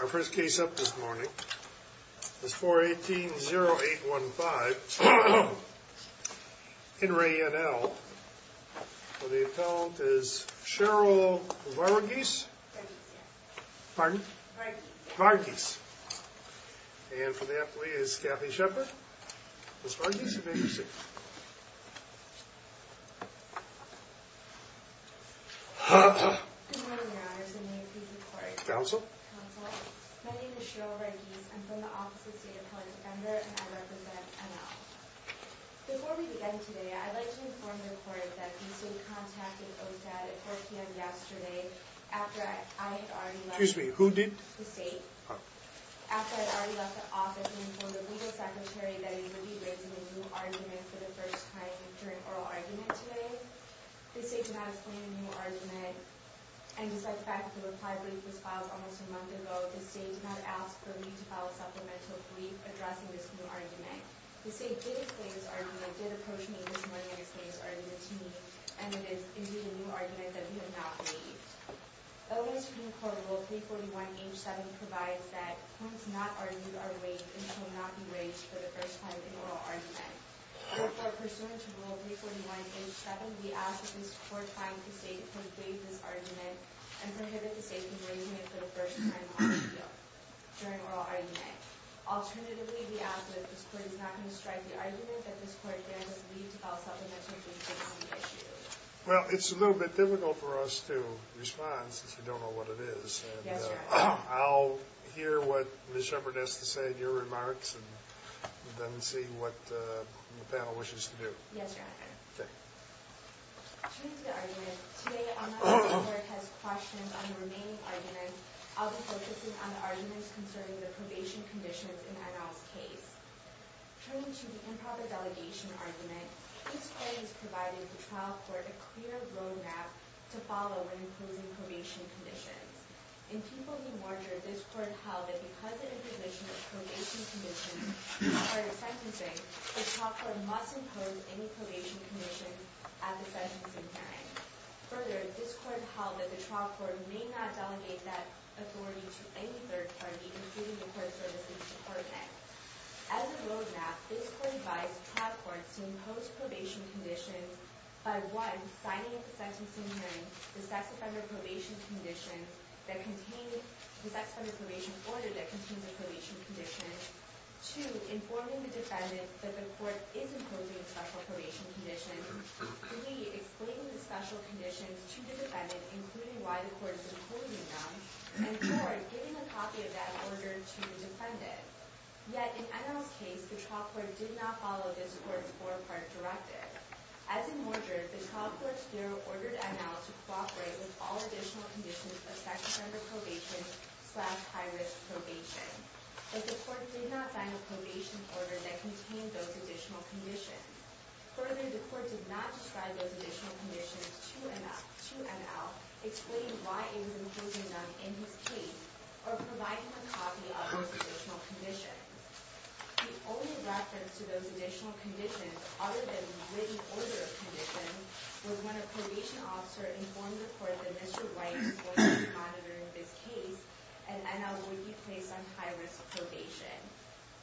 Our first case up this morning is 4-18-0-8-1-5. In re N.L. The appellant is Cheryl Varughese. Pardon? Varughese. And for the appellee is Kathy Shepard. Ms. Varughese, you may proceed. Good morning, your honors, and may it please the court. Counsel? Counsel, my name is Cheryl Varughese. I'm from the office of State Appellant Ember, and I represent N.L. Before we begin today, I'd like to inform the court that the state contacted OSAD at 4 p.m. yesterday after I had already left the state. Excuse me, who did? The state. After I had already left the office, I informed the legal secretary that he would be raising a new argument for the first time during oral argument today. The state did not explain the new argument, and despite the fact that the reply brief was filed almost a month ago, the state did not ask for me to file a supplemental brief addressing this new argument. The state did explain this argument, did approach me this morning and explained this argument to me, and it is indeed a new argument that we have not made. O.S. Supreme Court Rule 341, H. 7 provides that points not argued are waived and shall not be waived for the first time in oral argument. Therefore, pursuant to Rule 341, H. 7, we ask that this court find the state to complete this argument and prohibit the state from waiving it for the first time on appeal during oral argument. Alternatively, we ask that this court is not going to strike the argument that this court there does need to file supplemental briefs on the issue. Well, it's a little bit difficult for us to respond since we don't know what it is. I'll hear what Ms. Shepard has to say in your remarks and then see what the panel wishes to do. Yes, Your Honor. Due to the argument, today unless the court has questions on the remaining arguments, I'll be focusing on the arguments concerning the probation conditions in Adolf's case. Turning to the improper delegation argument, this court has provided the trial court a clear road map to follow when imposing probation conditions. In Peoples v. Warder, this court held that because of the provision of probation conditions prior to sentencing, the trial court must impose any probation conditions at the sentencing hearing. Further, this court held that the trial court may not delegate that authority to any third party, including the court services department. As a road map, this court advised trial courts to impose probation conditions by 1. signing at the sentencing hearing the sex offender probation order that contains a probation condition, 2. informing the defendant that the court is imposing special probation conditions, 3. explaining the special conditions to the defendant, including why the court is imposing them, and 4. giving a copy of that order to the defendant. Yet, in Enel's case, the trial court did not follow this court's four-part directive. As in Warder, the trial court here ordered Enel to cooperate with all additional conditions of sex offender probation slash high-risk probation, but the court did not sign a probation order that contained those additional conditions. Further, the court did not describe those additional conditions to Enel, explain why it was imposing them in his case, or provide him a copy of those additional conditions. The only reference to those additional conditions, other than the written order of conditions, was when a probation officer informed the court that Mr. White was not monitoring this case and Enel would be placed on high-risk probation.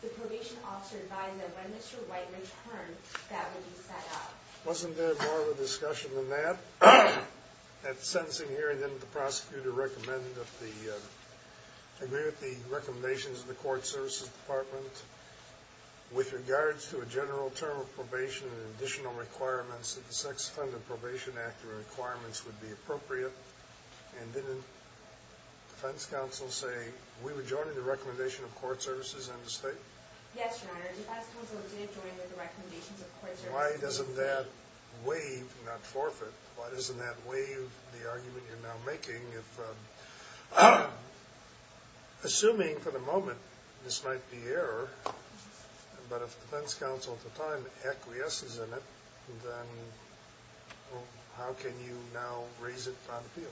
The probation officer advised that when Mr. White returned, that would be set up. Wasn't there more of a discussion than that? At the sentencing hearing, didn't the prosecutor agree with the recommendations of the court services department with regards to a general term of probation and additional requirements that the Sex Offender Probation Act requirements would be appropriate? And didn't defense counsel say, we were joining the recommendation of court services and the state? Yes, Your Honor. Defense counsel did join with the recommendations of court services. Why doesn't that waive, not forfeit, why doesn't that waive the argument you're now making? Assuming for the moment this might be error, but if defense counsel at the time acquiesces in it, then how can you now raise it on appeal?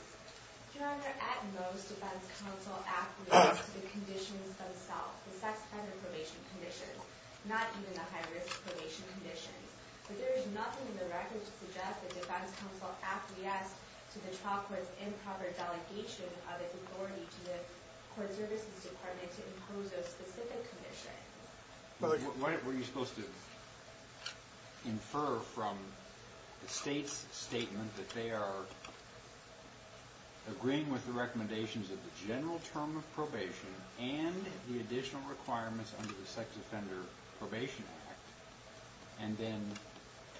Your Honor, at most, defense counsel acquiesces to the conditions themselves, the sex offender probation conditions, not even the high-risk probation conditions. But there is nothing in the record to suggest that defense counsel acquiesced to the trial court's improper delegation of its authority to the court services department to impose those specific conditions. Were you supposed to infer from the state's statement that they are agreeing with the recommendations of the general term of probation and the additional requirements under the Sex Offender Probation Act, and then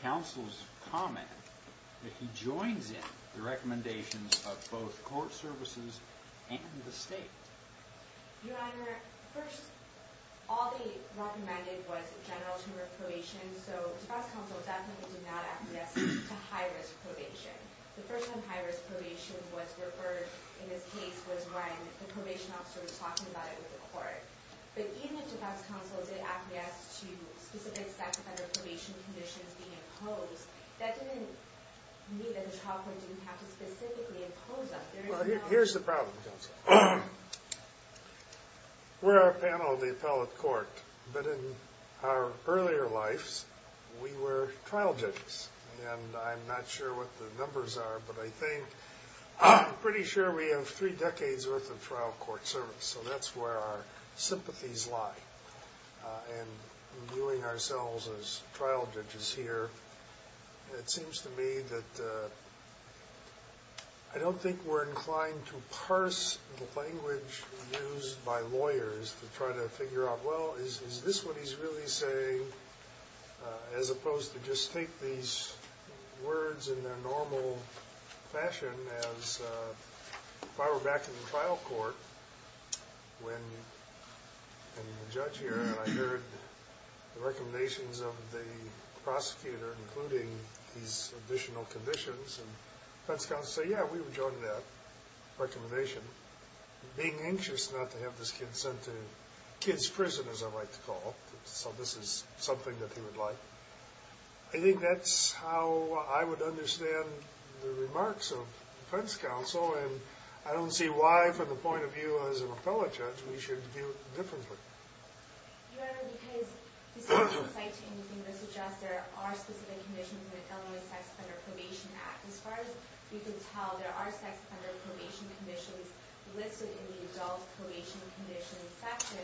counsel's comment that he joins in the recommendations of both court services and the state? Your Honor, first, all they recommended was the general term of probation, so defense counsel definitely did not acquiesce to high-risk probation. The first time high-risk probation was referred in this case was when the probation officer was talking about it with the court. But even if defense counsel did acquiesce to specific sex offender probation conditions being imposed, that didn't mean that the trial court didn't have to specifically impose them. Well, here's the problem, counsel. We're a panel of the appellate court, but in our earlier lives, we were trial judges. And I'm not sure what the numbers are, but I think I'm pretty sure we have three decades' worth of trial court service. So that's where our sympathies lie. And in viewing ourselves as trial judges here, it seems to me that I don't think we're inclined to parse the language used by lawyers to try to figure out, well, is this what he's really saying, as opposed to just take these words in their normal fashion as, if I were back in the trial court, and the judge here, and I heard the recommendations of the prosecutor, including these additional conditions, and defense counsel would say, yeah, we would join that recommendation. Being anxious not to have this kid sent to kid's prison, as I like to call it, so this is something that he would like, I think that's how I would understand the remarks of defense counsel. And I don't see why, from the point of view as an appellate judge, we should view it differently. Your Honor, because this doesn't cite anything that suggests there are specific conditions in the Illinois Sex Offender Probation Act. As far as we can tell, there are sex offender probation conditions listed in the adult probation conditions section,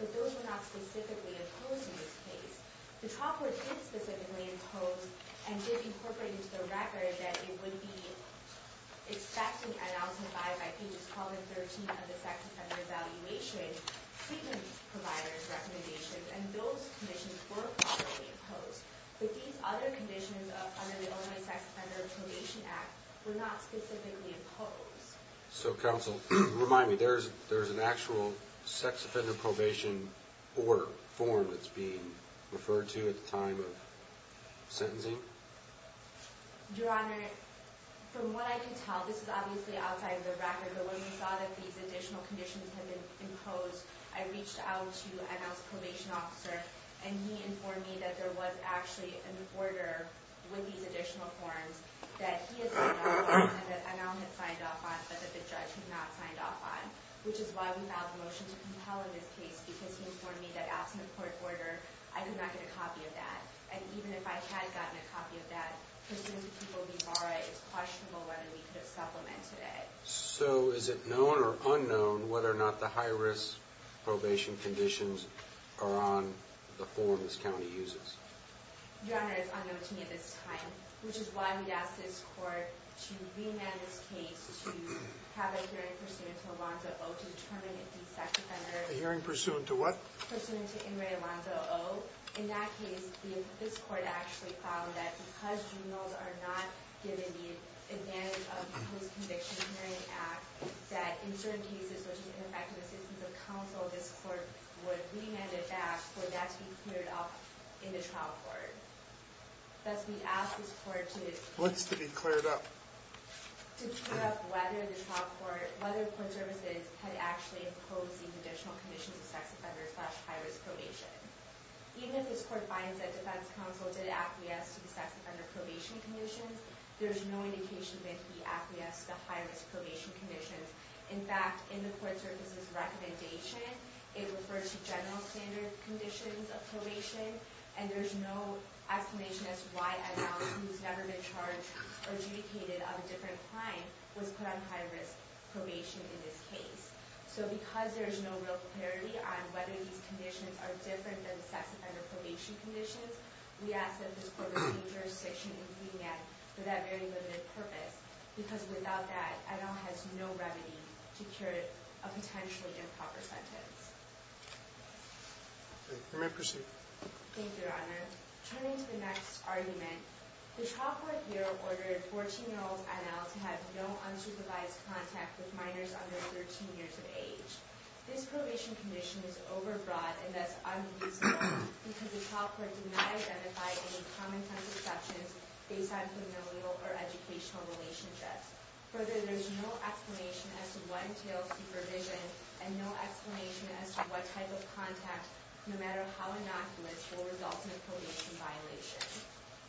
but those were not specifically imposed in this case. The trial court did specifically impose, and did incorporate into the record, that it would be expected, announced by, by pages 12 and 13 of the sex offender evaluation, treatment providers' recommendations, and those conditions were properly imposed. But these other conditions under the Illinois Sex Offender Probation Act were not specifically imposed. So counsel, remind me, there's an actual sex offender probation order, form, that's being referred to at the time of sentencing? Your Honor, from what I can tell, this is obviously outside the record, but when we saw that these additional conditions had been imposed, I reached out to NL's probation officer, and he informed me that there was actually an order with these additional forms, that he had signed off on, and that NL had signed off on, but that the judge had not signed off on. Which is why we filed a motion to compel in this case, because he informed me that after the court order, I could not get a copy of that. And even if I had gotten a copy of that, pursuant to people we borrowed, it's questionable whether we could have supplemented it. So is it known or unknown whether or not the high-risk probation conditions are on the form this county uses? Your Honor, it's unknown to me at this time, which is why we asked this court to re-amend this case to have a hearing pursuant to Alonzo O, to determine if the sex offender... A hearing pursuant to what? Pursuant to Inmate Alonzo O. In that case, this court actually found that because juveniles are not given the advantage of the Post-Conviction Hearing Act, that in certain cases, which is ineffective assistance of counsel, this court would re-amend it back for that to be cleared up in the trial court. Thus, we ask this court to... What's to be cleared up? To clear up whether the trial court, whether court services had actually imposed the conditional conditions of sex offender slash high-risk probation. Even if this court finds that defense counsel did acquiesce to the sex offender probation conditions, there's no indication that he acquiesced to the high-risk probation conditions. In fact, in the court services recommendation, it refers to general standard conditions of probation, and there's no explanation as to why Adon, who's never been charged or adjudicated of a different crime, was put on high-risk probation in this case. So, because there's no real clarity on whether these conditions are different than sex offender probation conditions, we ask that this court receive jurisdiction in the hearing act for that very limited purpose, because without that, Adon has no remedy to cure a potentially improper sentence. Thank you. You may proceed. Thank you, Your Honor. Turning to the next argument, the trial court here ordered 14-year-old Adon to have no unsupervised contact with minors under 13 years of age. This probation condition is overbroad, and thus, unuseful, because the trial court did not identify any common-sense exceptions based on familial or educational relationships. Further, there's no explanation as to what entails supervision, and no explanation as to what type of contact, no matter how innocuous, will result in a probation violation.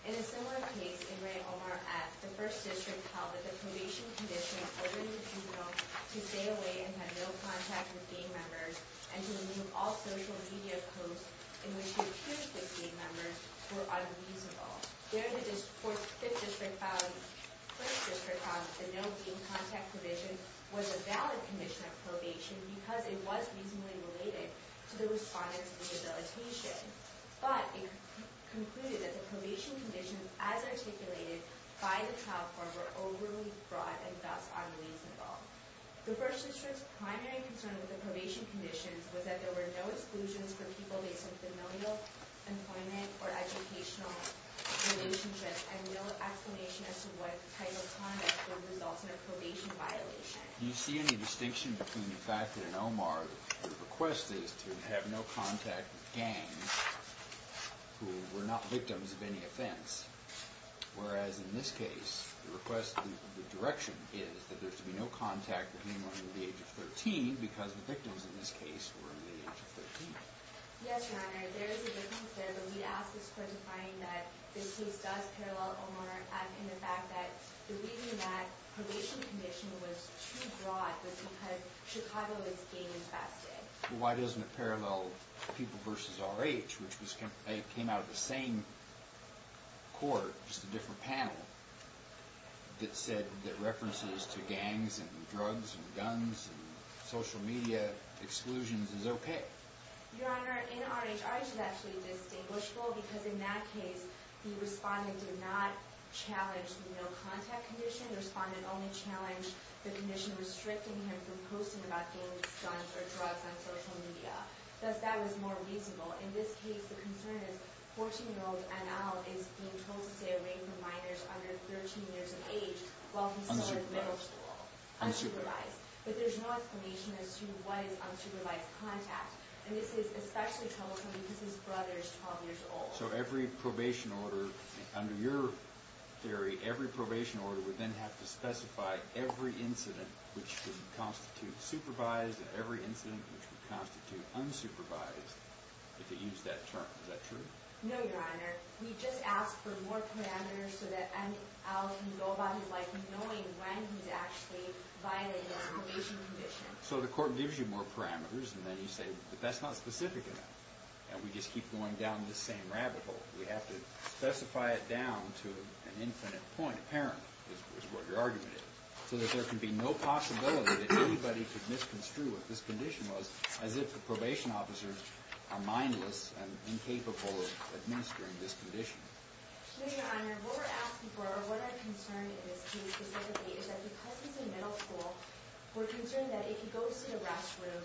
In a similar case, in Ray Omar F., the First District held that the probation condition ordered the juvenile to stay away and have no contact with gang members, and to remove all social media posts in which he appears with gang members were unreasonable. There, the Fifth District found that the no gang contact provision was a valid condition of probation, because it was reasonably related to the respondents' rehabilitation. But, it concluded that the probation conditions, as articulated by the trial court, were overly broad, and thus, unreasonable. The First District's primary concern with the probation conditions was that there were no exclusions for people based on familial employment or educational relationships, and no explanation as to what type of contact will result in a probation violation. Do you see any distinction between the fact that in Omar, the request is to have no contact with gangs who were not victims of any offense, whereas in this case, the request, the direction is that there should be no contact between women under the age of 13, because the victims in this case were in the age of 13. Yes, Your Honor, there is a difference there, but we ask this court to find that this case does parallel Omar, in the fact that believing that probation condition was too broad was because Chicago was gang infested. Why doesn't it parallel People vs. RH, which came out of the same court, just a different panel, that said that references to gangs and drugs and guns and social media exclusions is okay? Your Honor, in RH, RH is actually distinguishable, because in that case, the respondent did not challenge the no contact condition. The respondent only challenged the condition restricting him from posting about gangs, guns, or drugs on social media. Thus, that was more reasonable. In this case, the concern is 14-year-old Anal is being told to stay away from minors under 13 years of age while he's in middle school. Unsupervised. But there's no explanation as to what is unsupervised contact. It's especially troubling because his brother is 12 years old. So every probation order, under your theory, every probation order would then have to specify every incident which would constitute supervised and every incident which would constitute unsupervised, if you use that term. Is that true? No, Your Honor. We just ask for more parameters so that Anal can go about his life knowing when he's actually violated his probation condition. So the court gives you more parameters, and then you say, but that's not specific enough. And we just keep going down this same rabbit hole. We have to specify it down to an infinite point, apparently, is what your argument is. So that there can be no possibility that anybody could misconstrue what this condition was as if the probation officers are mindless and incapable of administering this condition. No, Your Honor. What we're asking for, or what our concern is, to be specific, is that because he's in middle school, we're concerned that if he goes to the restroom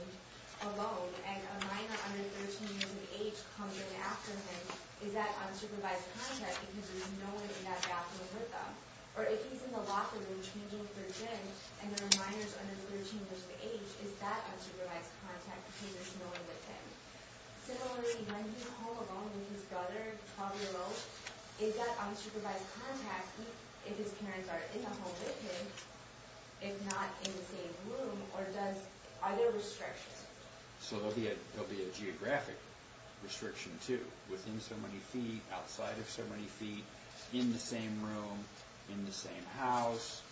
alone and a minor under 13 years of age comes in after him, is that unsupervised contact because there's no one in that bathroom with him? Or if he's in the locker room changing for gin and there are minors under 13 years of age, is that unsupervised contact because there's no one with him? Similarly, when he's all alone with his brother, 12-year-old, is that unsupervised contact if his parents are in the home with him, if not in the same room, or are there restrictions? So there'll be a geographic restriction, too, within so many feet, outside of so many feet, in the same room, in the same house.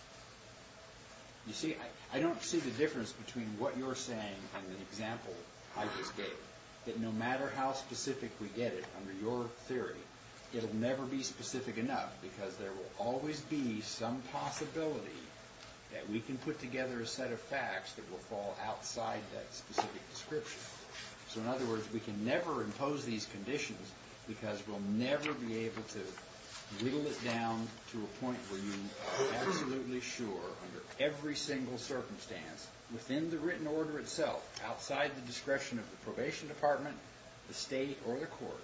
You see, I don't see the difference between what you're saying and the example I just gave, that no matter how specific we get it, under your theory, it'll never be specific enough because there will always be some possibility that we can put together a set of facts that will fall outside that specific description. So in other words, we can never impose these conditions because we'll never be able to whittle it down to a point where you are absolutely sure, under every single circumstance, within the written order itself, outside the discretion of the probation department, the state, or the court,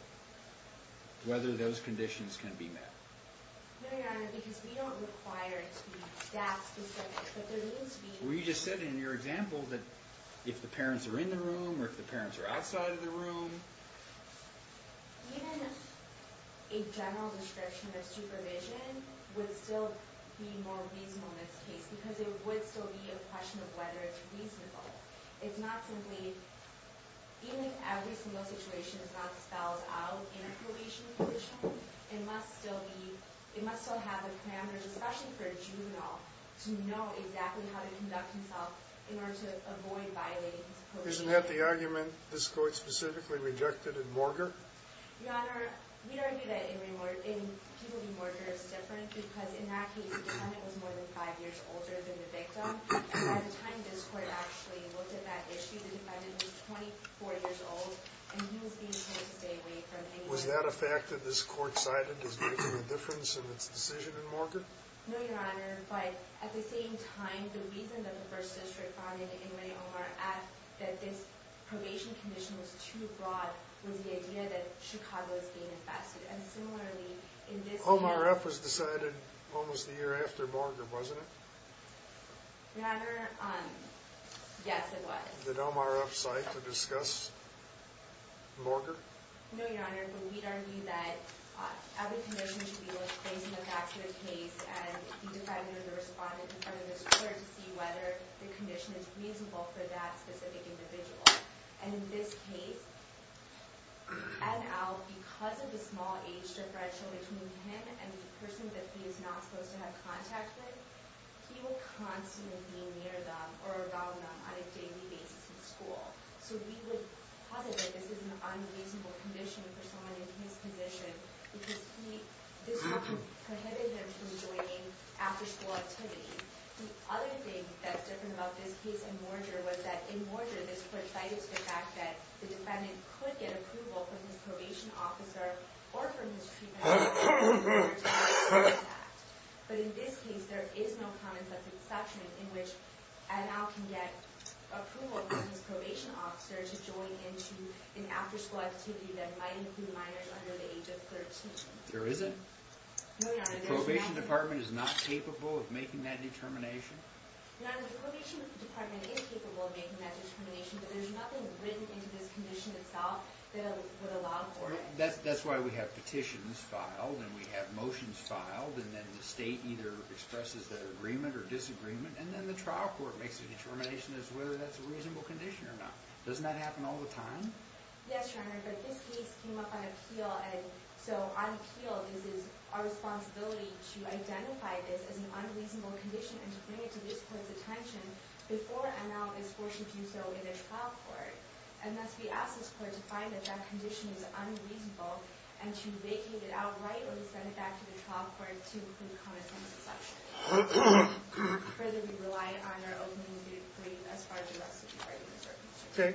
whether those conditions can be met. No, Your Honor, because we don't require to be staff-specific, but there needs to be... Well, you just said in your example that if the parents are in the room or if the parents are outside of the room... Even if a general restriction of supervision would still be more reasonable in this case because it would still be a question of whether it's reasonable. It's not simply... Even if every single situation is not spelled out in a probation position, it must still have the parameters, especially for a juvenile, to know exactly how to conduct himself in order to avoid violating his probation... Isn't that the argument this court specifically rejected in Morger? Your Honor, we don't do that in Morger. In people who do Morger, it's different because in that case, the defendant was more than five years older than the victim. By the time this court actually looked at that issue, the defendant was 24 years old and he was being told to stay away from any... Was that a fact that this court cited as making a difference in its decision in Morger? No, Your Honor. But at the same time, the reason that the First District found in the Inmate OMRF that this probation condition was too broad was the idea that Chicago is being infested. And similarly, in this case... OMRF was decided almost a year after Morger, wasn't it? Your Honor, yes, it was. Did OMRF cite or discuss Morger? No, Your Honor. But we'd argue that every condition should be able to face and look back to the case and the defendant or the respondent in front of this court to see whether the condition is reasonable for that specific individual. And in this case, because of the small age differential between him and the person that he is not supposed to have contact with, he will constantly be near them or around them on a daily basis in school. So we would posit that this is an unreasonable condition for someone in his position because this prohibits him from joining after-school activities. The other thing that's different about this case and Morger was that in Morger, this court cited the fact that the defendant could get approval from his probation officer or from his treatment officer to join a sex act. But in this case, there is no common-sense exception in which an adult can get approval from his probation officer to join into an after-school activity that might include minors under the age of 13. There isn't? The probation department is not capable of making that determination? Your Honor, the probation department is capable of making that determination, but there's nothing written into this condition itself that would allow for it. That's why we have petitions filed and we have motions filed and then the state either expresses that agreement or disagreement and that doesn't happen all the time. Yes, Your Honor, but this case came up on appeal and so on appeal, this is our responsibility to identify this as an unreasonable condition and to bring it to this court's attention before an adult is forced to do so in a trial court. And thus, we ask this court to find that that condition is unreasonable and to vacate it outright or to send it back to the trial court to include common-sense exception. Further, we rely on our opening of the trial court Thank you, Your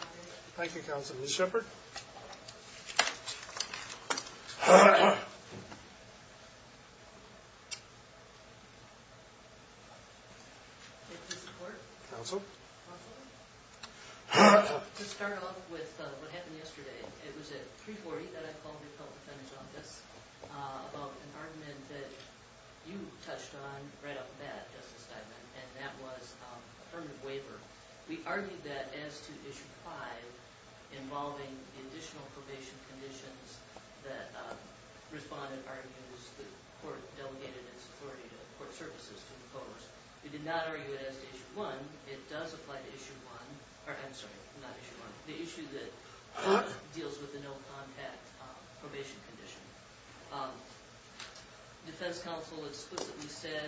Honor. Thank you, Counsel. Ms. Shepard? To start off with what happened yesterday, it was at 3.40 that I called the public attorney's office about an argument that you touched on right off the bat, Justice Steinman, and that was affirmative waiver. We argued that as to Issue 5 involving the additional probation conditions that Respondent argues the court delegated its authority to the court services to impose. We did not argue it as to Issue 1. It does apply to Issue 1. I'm sorry, not Issue 1. The issue that deals with the no-contact probation condition. Defense Counsel explicitly said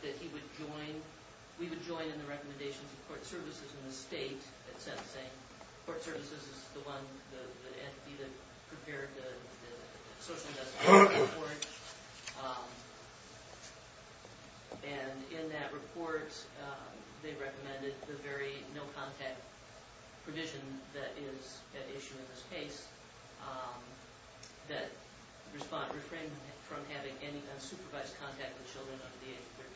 that he would join, we would join in the recommendations of court services in the state that said, court services is the one, the entity that prepared the social justice report. And in that report they recommended the very no-contact provision that is at issue in this case that refrain from having contact with children under the age of 13.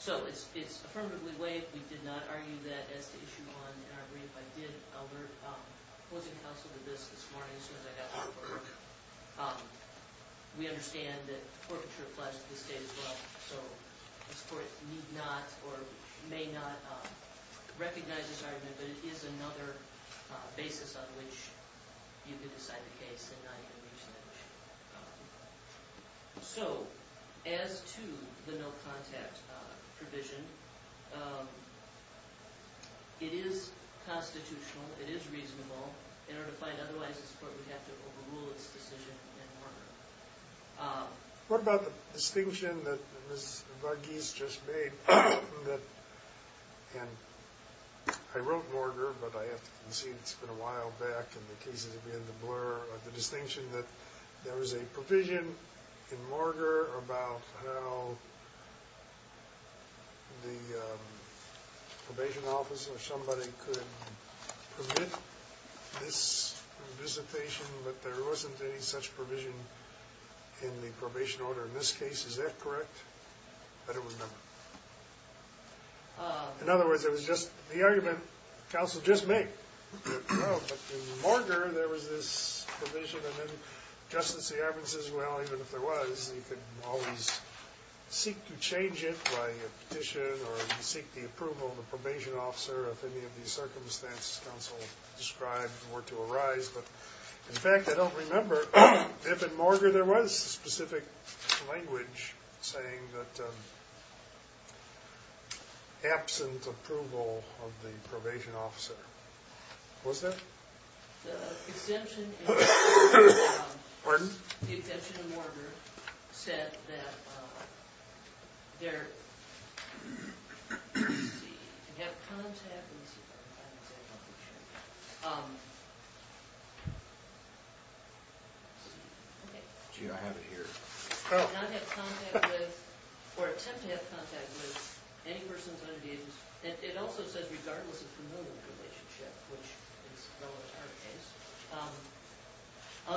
So it's affirmatively waived. We did not argue that as to Issue 1 in our brief. I did, Albert, opposing counsel to this this morning as soon as I got the report. We understand that forfeiture applies to the state as well. So this court need not or may not recognize this argument but it is another basis on which you can decide the case and not even reach that issue. So, as to the no-contact provision, it is constitutional, it is reasonable. In order to find otherwise, this court would have to overrule its decision in Morger. What about the distinction that Ms. Varghese just made that I wrote Morger but I have to concede it's been a while back and the cases have been in the blur. The distinction that there was a provision in Morger about how the probation office or somebody could permit this visitation but there wasn't any such provision in the probation order in this case. Is that correct? I don't remember. In other words, it was just the argument counsel just made. But in Morger, there was this provision and then Justice E. Arben says, well, even if there was, you could always seek to change it by a petition or seek the approval of the probation officer if any of these circumstances counsel described were to arise. But, in fact, I don't remember if in Morger there was specific language saying that absent approval of the probation officer. What was that? The exemption Pardon? The exemption in Morger said that there have contact with Gee, I have it here. Do not have contact with or attempt to have contact with any persons under the age of It also says, regardless of familial relationship, which is relevant to our case,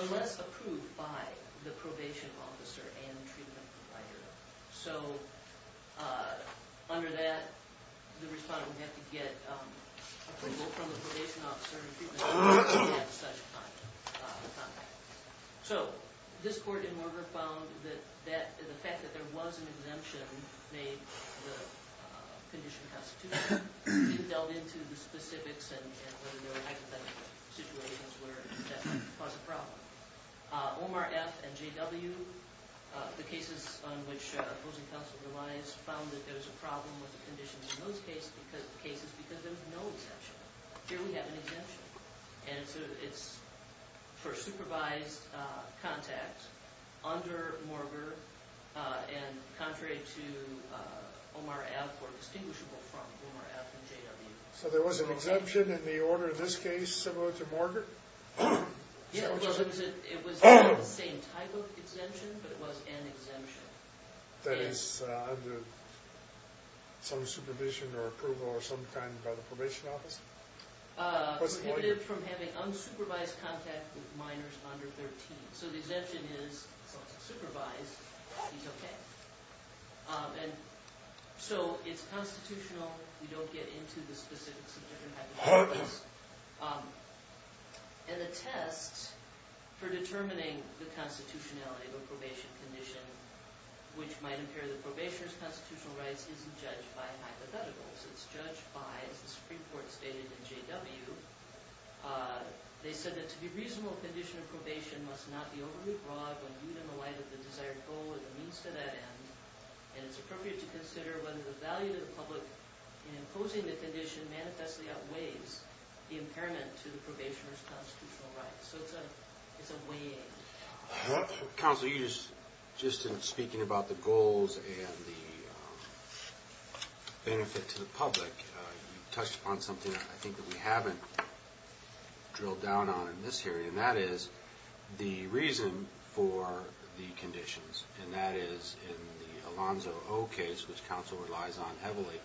unless approved by the probation officer and the treatment provider. So, under that, the respondent would have to get approval from the probation officer and treatment provider to have such contact. So, this court in Morger found that the fact that there was an exemption made in the condition constitution didn't delve into the specifics and whether there were hypothetical situations where that might cause a problem. Omar F. and J.W., the cases on which opposing counsel revised, found that there was a problem with the conditions in those cases because there was no exemption. Here we have an exemption. And so, it's for supervised contact under Morger and contrary to Omar F. or distinguishable from Omar F. and J.W. So, there was an exemption in the order of this case similar to Morger? Yes, it was the same type of exemption, but it was an exemption. That is, under some supervision or approval or some kind by the probation officer? Prohibited from having unsupervised contact with minors under 13. So, the exemption is supervised. It's okay. So, it's constitutional. We don't get into the specifics of different hypotheticals. And the test for determining the constitutionality of a probation condition, which might impair the probationer's constitutional rights, isn't judged by hypotheticals. It's judged by, as the Supreme Court stated in J.W., they said that to be reasonable, a condition of probation must not be overly broad when viewed in the light of the desired goal or the means to that end, and it's appropriate to consider whether the value to the public in imposing the condition manifestly outweighs the benefit to the public. You touched upon something I think that we haven't drilled down on in this hearing, and that is the reason for the conditions, and that is in the Alonzo O. case, which counsel relies on heavily,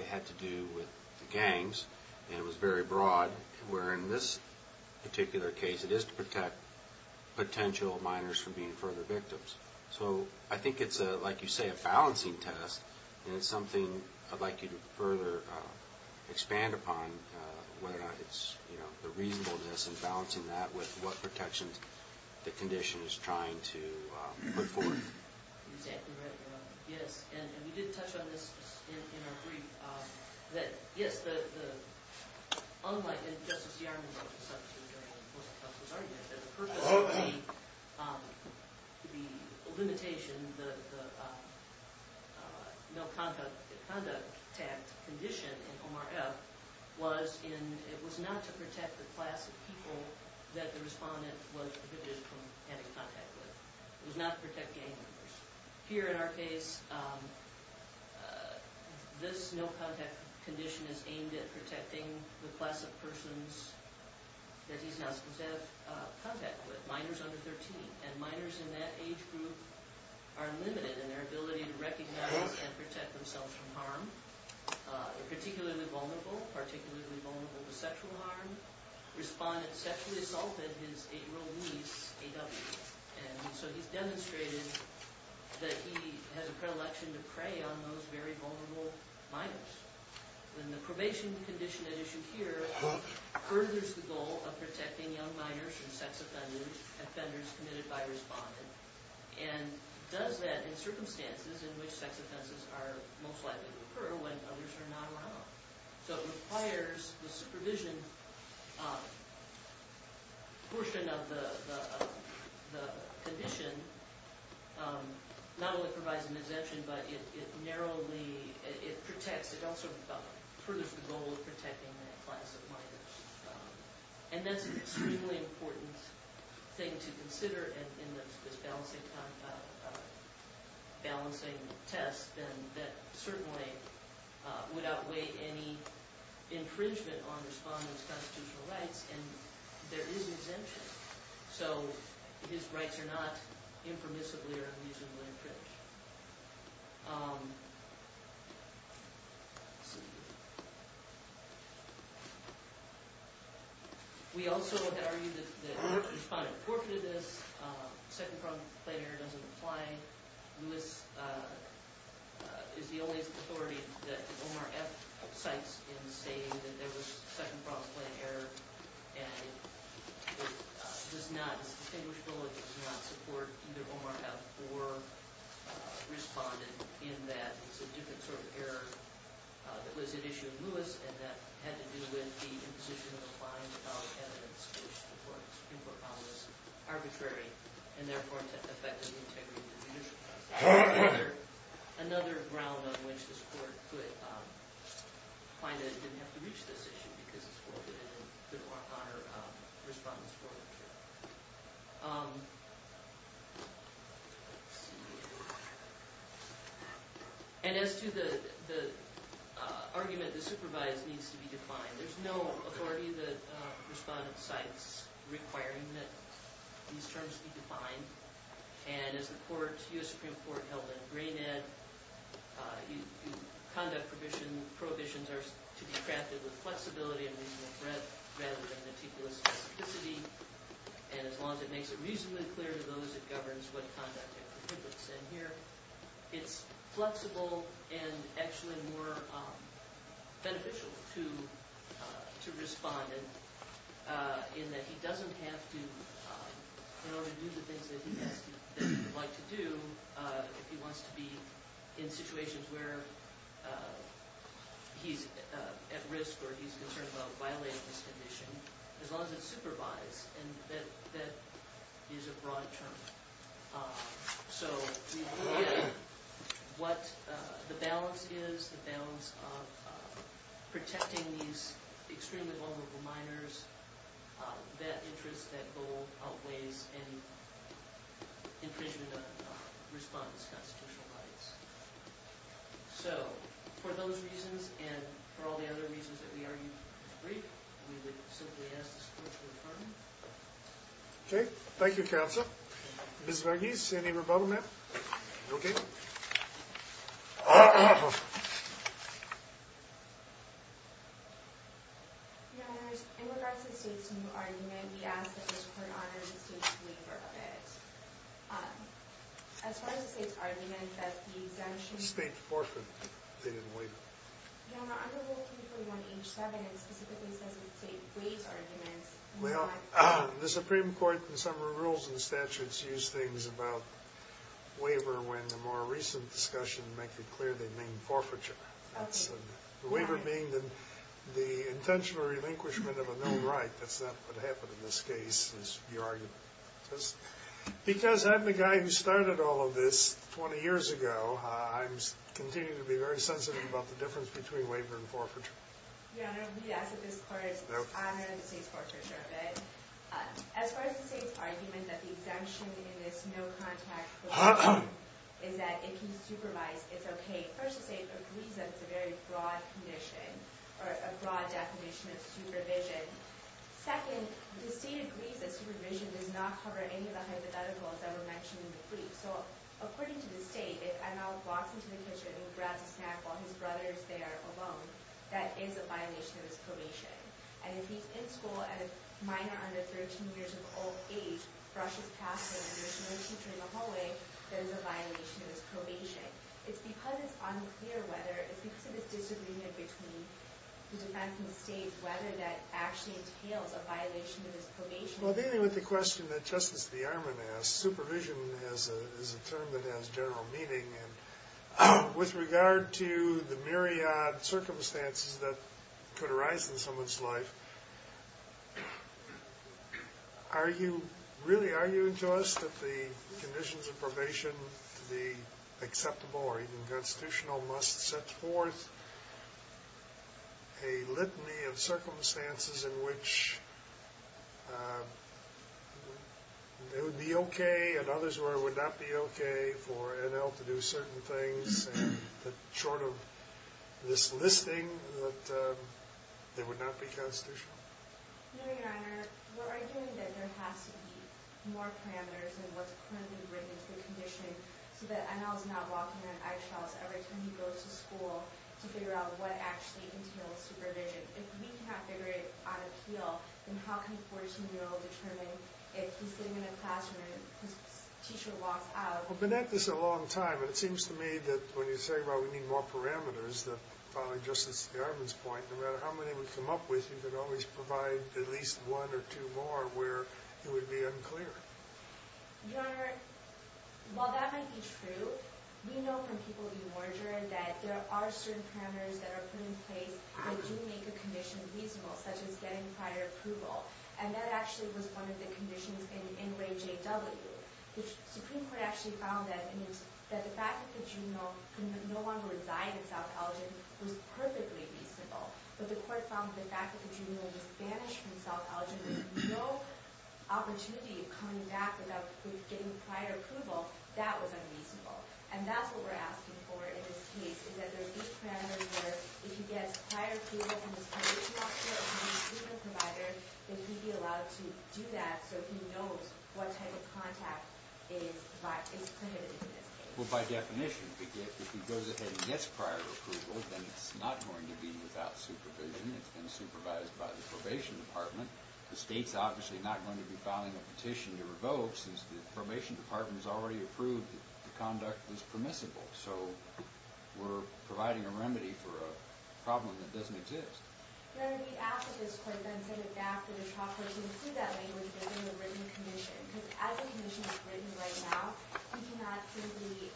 it had to do with gangs, and it was very broad, where in this particular case it is to protect potential minors from being further victims. So I think it's, like you say, a balancing test, and it's something I'd like you to further expand upon, whether or not it's the reasonableness and balancing that with what protections the condition is trying to put forth. Yes, and we did touch on this in our brief, that yes, the unlikely, and Justice Yarmulke was arguing that the purpose of the limitation, the no conduct condition in OMRF was in, it was not to protect the class of people that the respondent was prohibited from having contact with. It was not to protect gang members. Here in our case, this no contact condition is aimed at protecting the class of persons that he's not supposed to have contact with. Minors under 13, and minors in that age group are limited in their ability to recognize and protect themselves from harm. They're particularly vulnerable, particularly vulnerable Yarmulke has repeatedly assaulted his eight-year-old niece, A.W., and so he's demonstrated that he has a predilection to prey on those very vulnerable minors. And the probation condition at issue here furthers the goal of protecting young minors from sex offenders, offenders committed by respondent, and does that in circumstances in which sex offenses are most likely to occur when others are not around. So it requires the supervision portion of the condition not only provides an exemption, but it narrowly, it protects, it also furthers the goal of protecting from offenders. And that's a particularly important thing to consider in this balancing test, and that certainly would outweigh any infringement on respondent's constitutional rights, and there is exemption. So his rights are not impermissibly or unusually infringed. We also argue that the respondent reported this, second problem plan error doesn't apply, Lewis is the only authority that Omar F. cites in stating that there was second problem plan error, and it does not, it's distinguishable, it does not support either Omar F. or respondent in that it's a different sort of error that was at issue in Lewis, and that had to do with the imposition of a fine without evidence, which the court has decided that was not the case. So for those reasons, and for all the other reasons that we argued were brief, we would simply ask the court to confirm. Okay, thank you counsel. Ms. Verghese, any questions? I have a question about the state's argument that the exemption state forfeit, they didn't waive it. The Supreme Court in some of the rules and statutes use things about waiver when the more recent discussion make it clear they mean forfeiture. The waiver being the intentional relinquishment of a known right. That's not what happened in this case. Because I'm the guy who started all of this 20 years ago, I continue to be very sensitive about the difference between waiver and forfeiture. We ask that this court set forth a litany of circumstances in which it would be okay and others would not be okay for NL to do certain things short of this listing that they would not be constitutional. Your Honor, we're arguing that there has to be more parameters in what's going that the court set forth of circumstances it would be okay for NL to do certain things short of this listing that they would not be okay for NL to do certain things listing we're arguing that there are certain parameters put in place responsible such as getting prior approval. That's one of the conditions in Dixon. The ordinal no longer reside in south elgin was perfectly reasonable, but the fact that the juvenile was banished from south elgin with no opportunity of coming back without getting prior approval, that was unreasonable. And that's what we're asking for in this case is that there are these parameters where if he gets prior approval from his condition doctor or from his treatment doctor, not going to be supervised by the probation department. The state's obviously not going to be filing a petition to revoke since the probation department has already approved that the conduct is permissible. So we're providing a remedy for a problem that doesn't exist. And then we ask that this court then send it back to the trial court to include that language within the written commission because as the commission has written right now, we cannot simply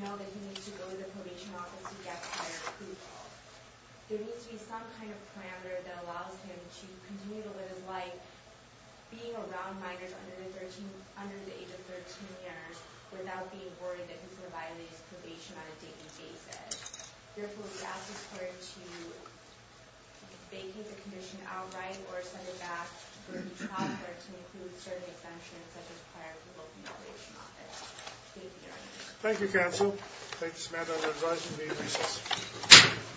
know that he needs to go to the probation office to get prior approval. There needs to be some kind of parameter that allows him to continue to live his life being around minors under the age of 13 years without being worried that he's going to violate his probation on a daily basis. Therefore, we ask this court to vacate the commission outright or send it back to the trial court to include certain exemptions such as prior approval from the probation office. Thank you, counsel. Thank you, Samantha, and I'm going to be in recess.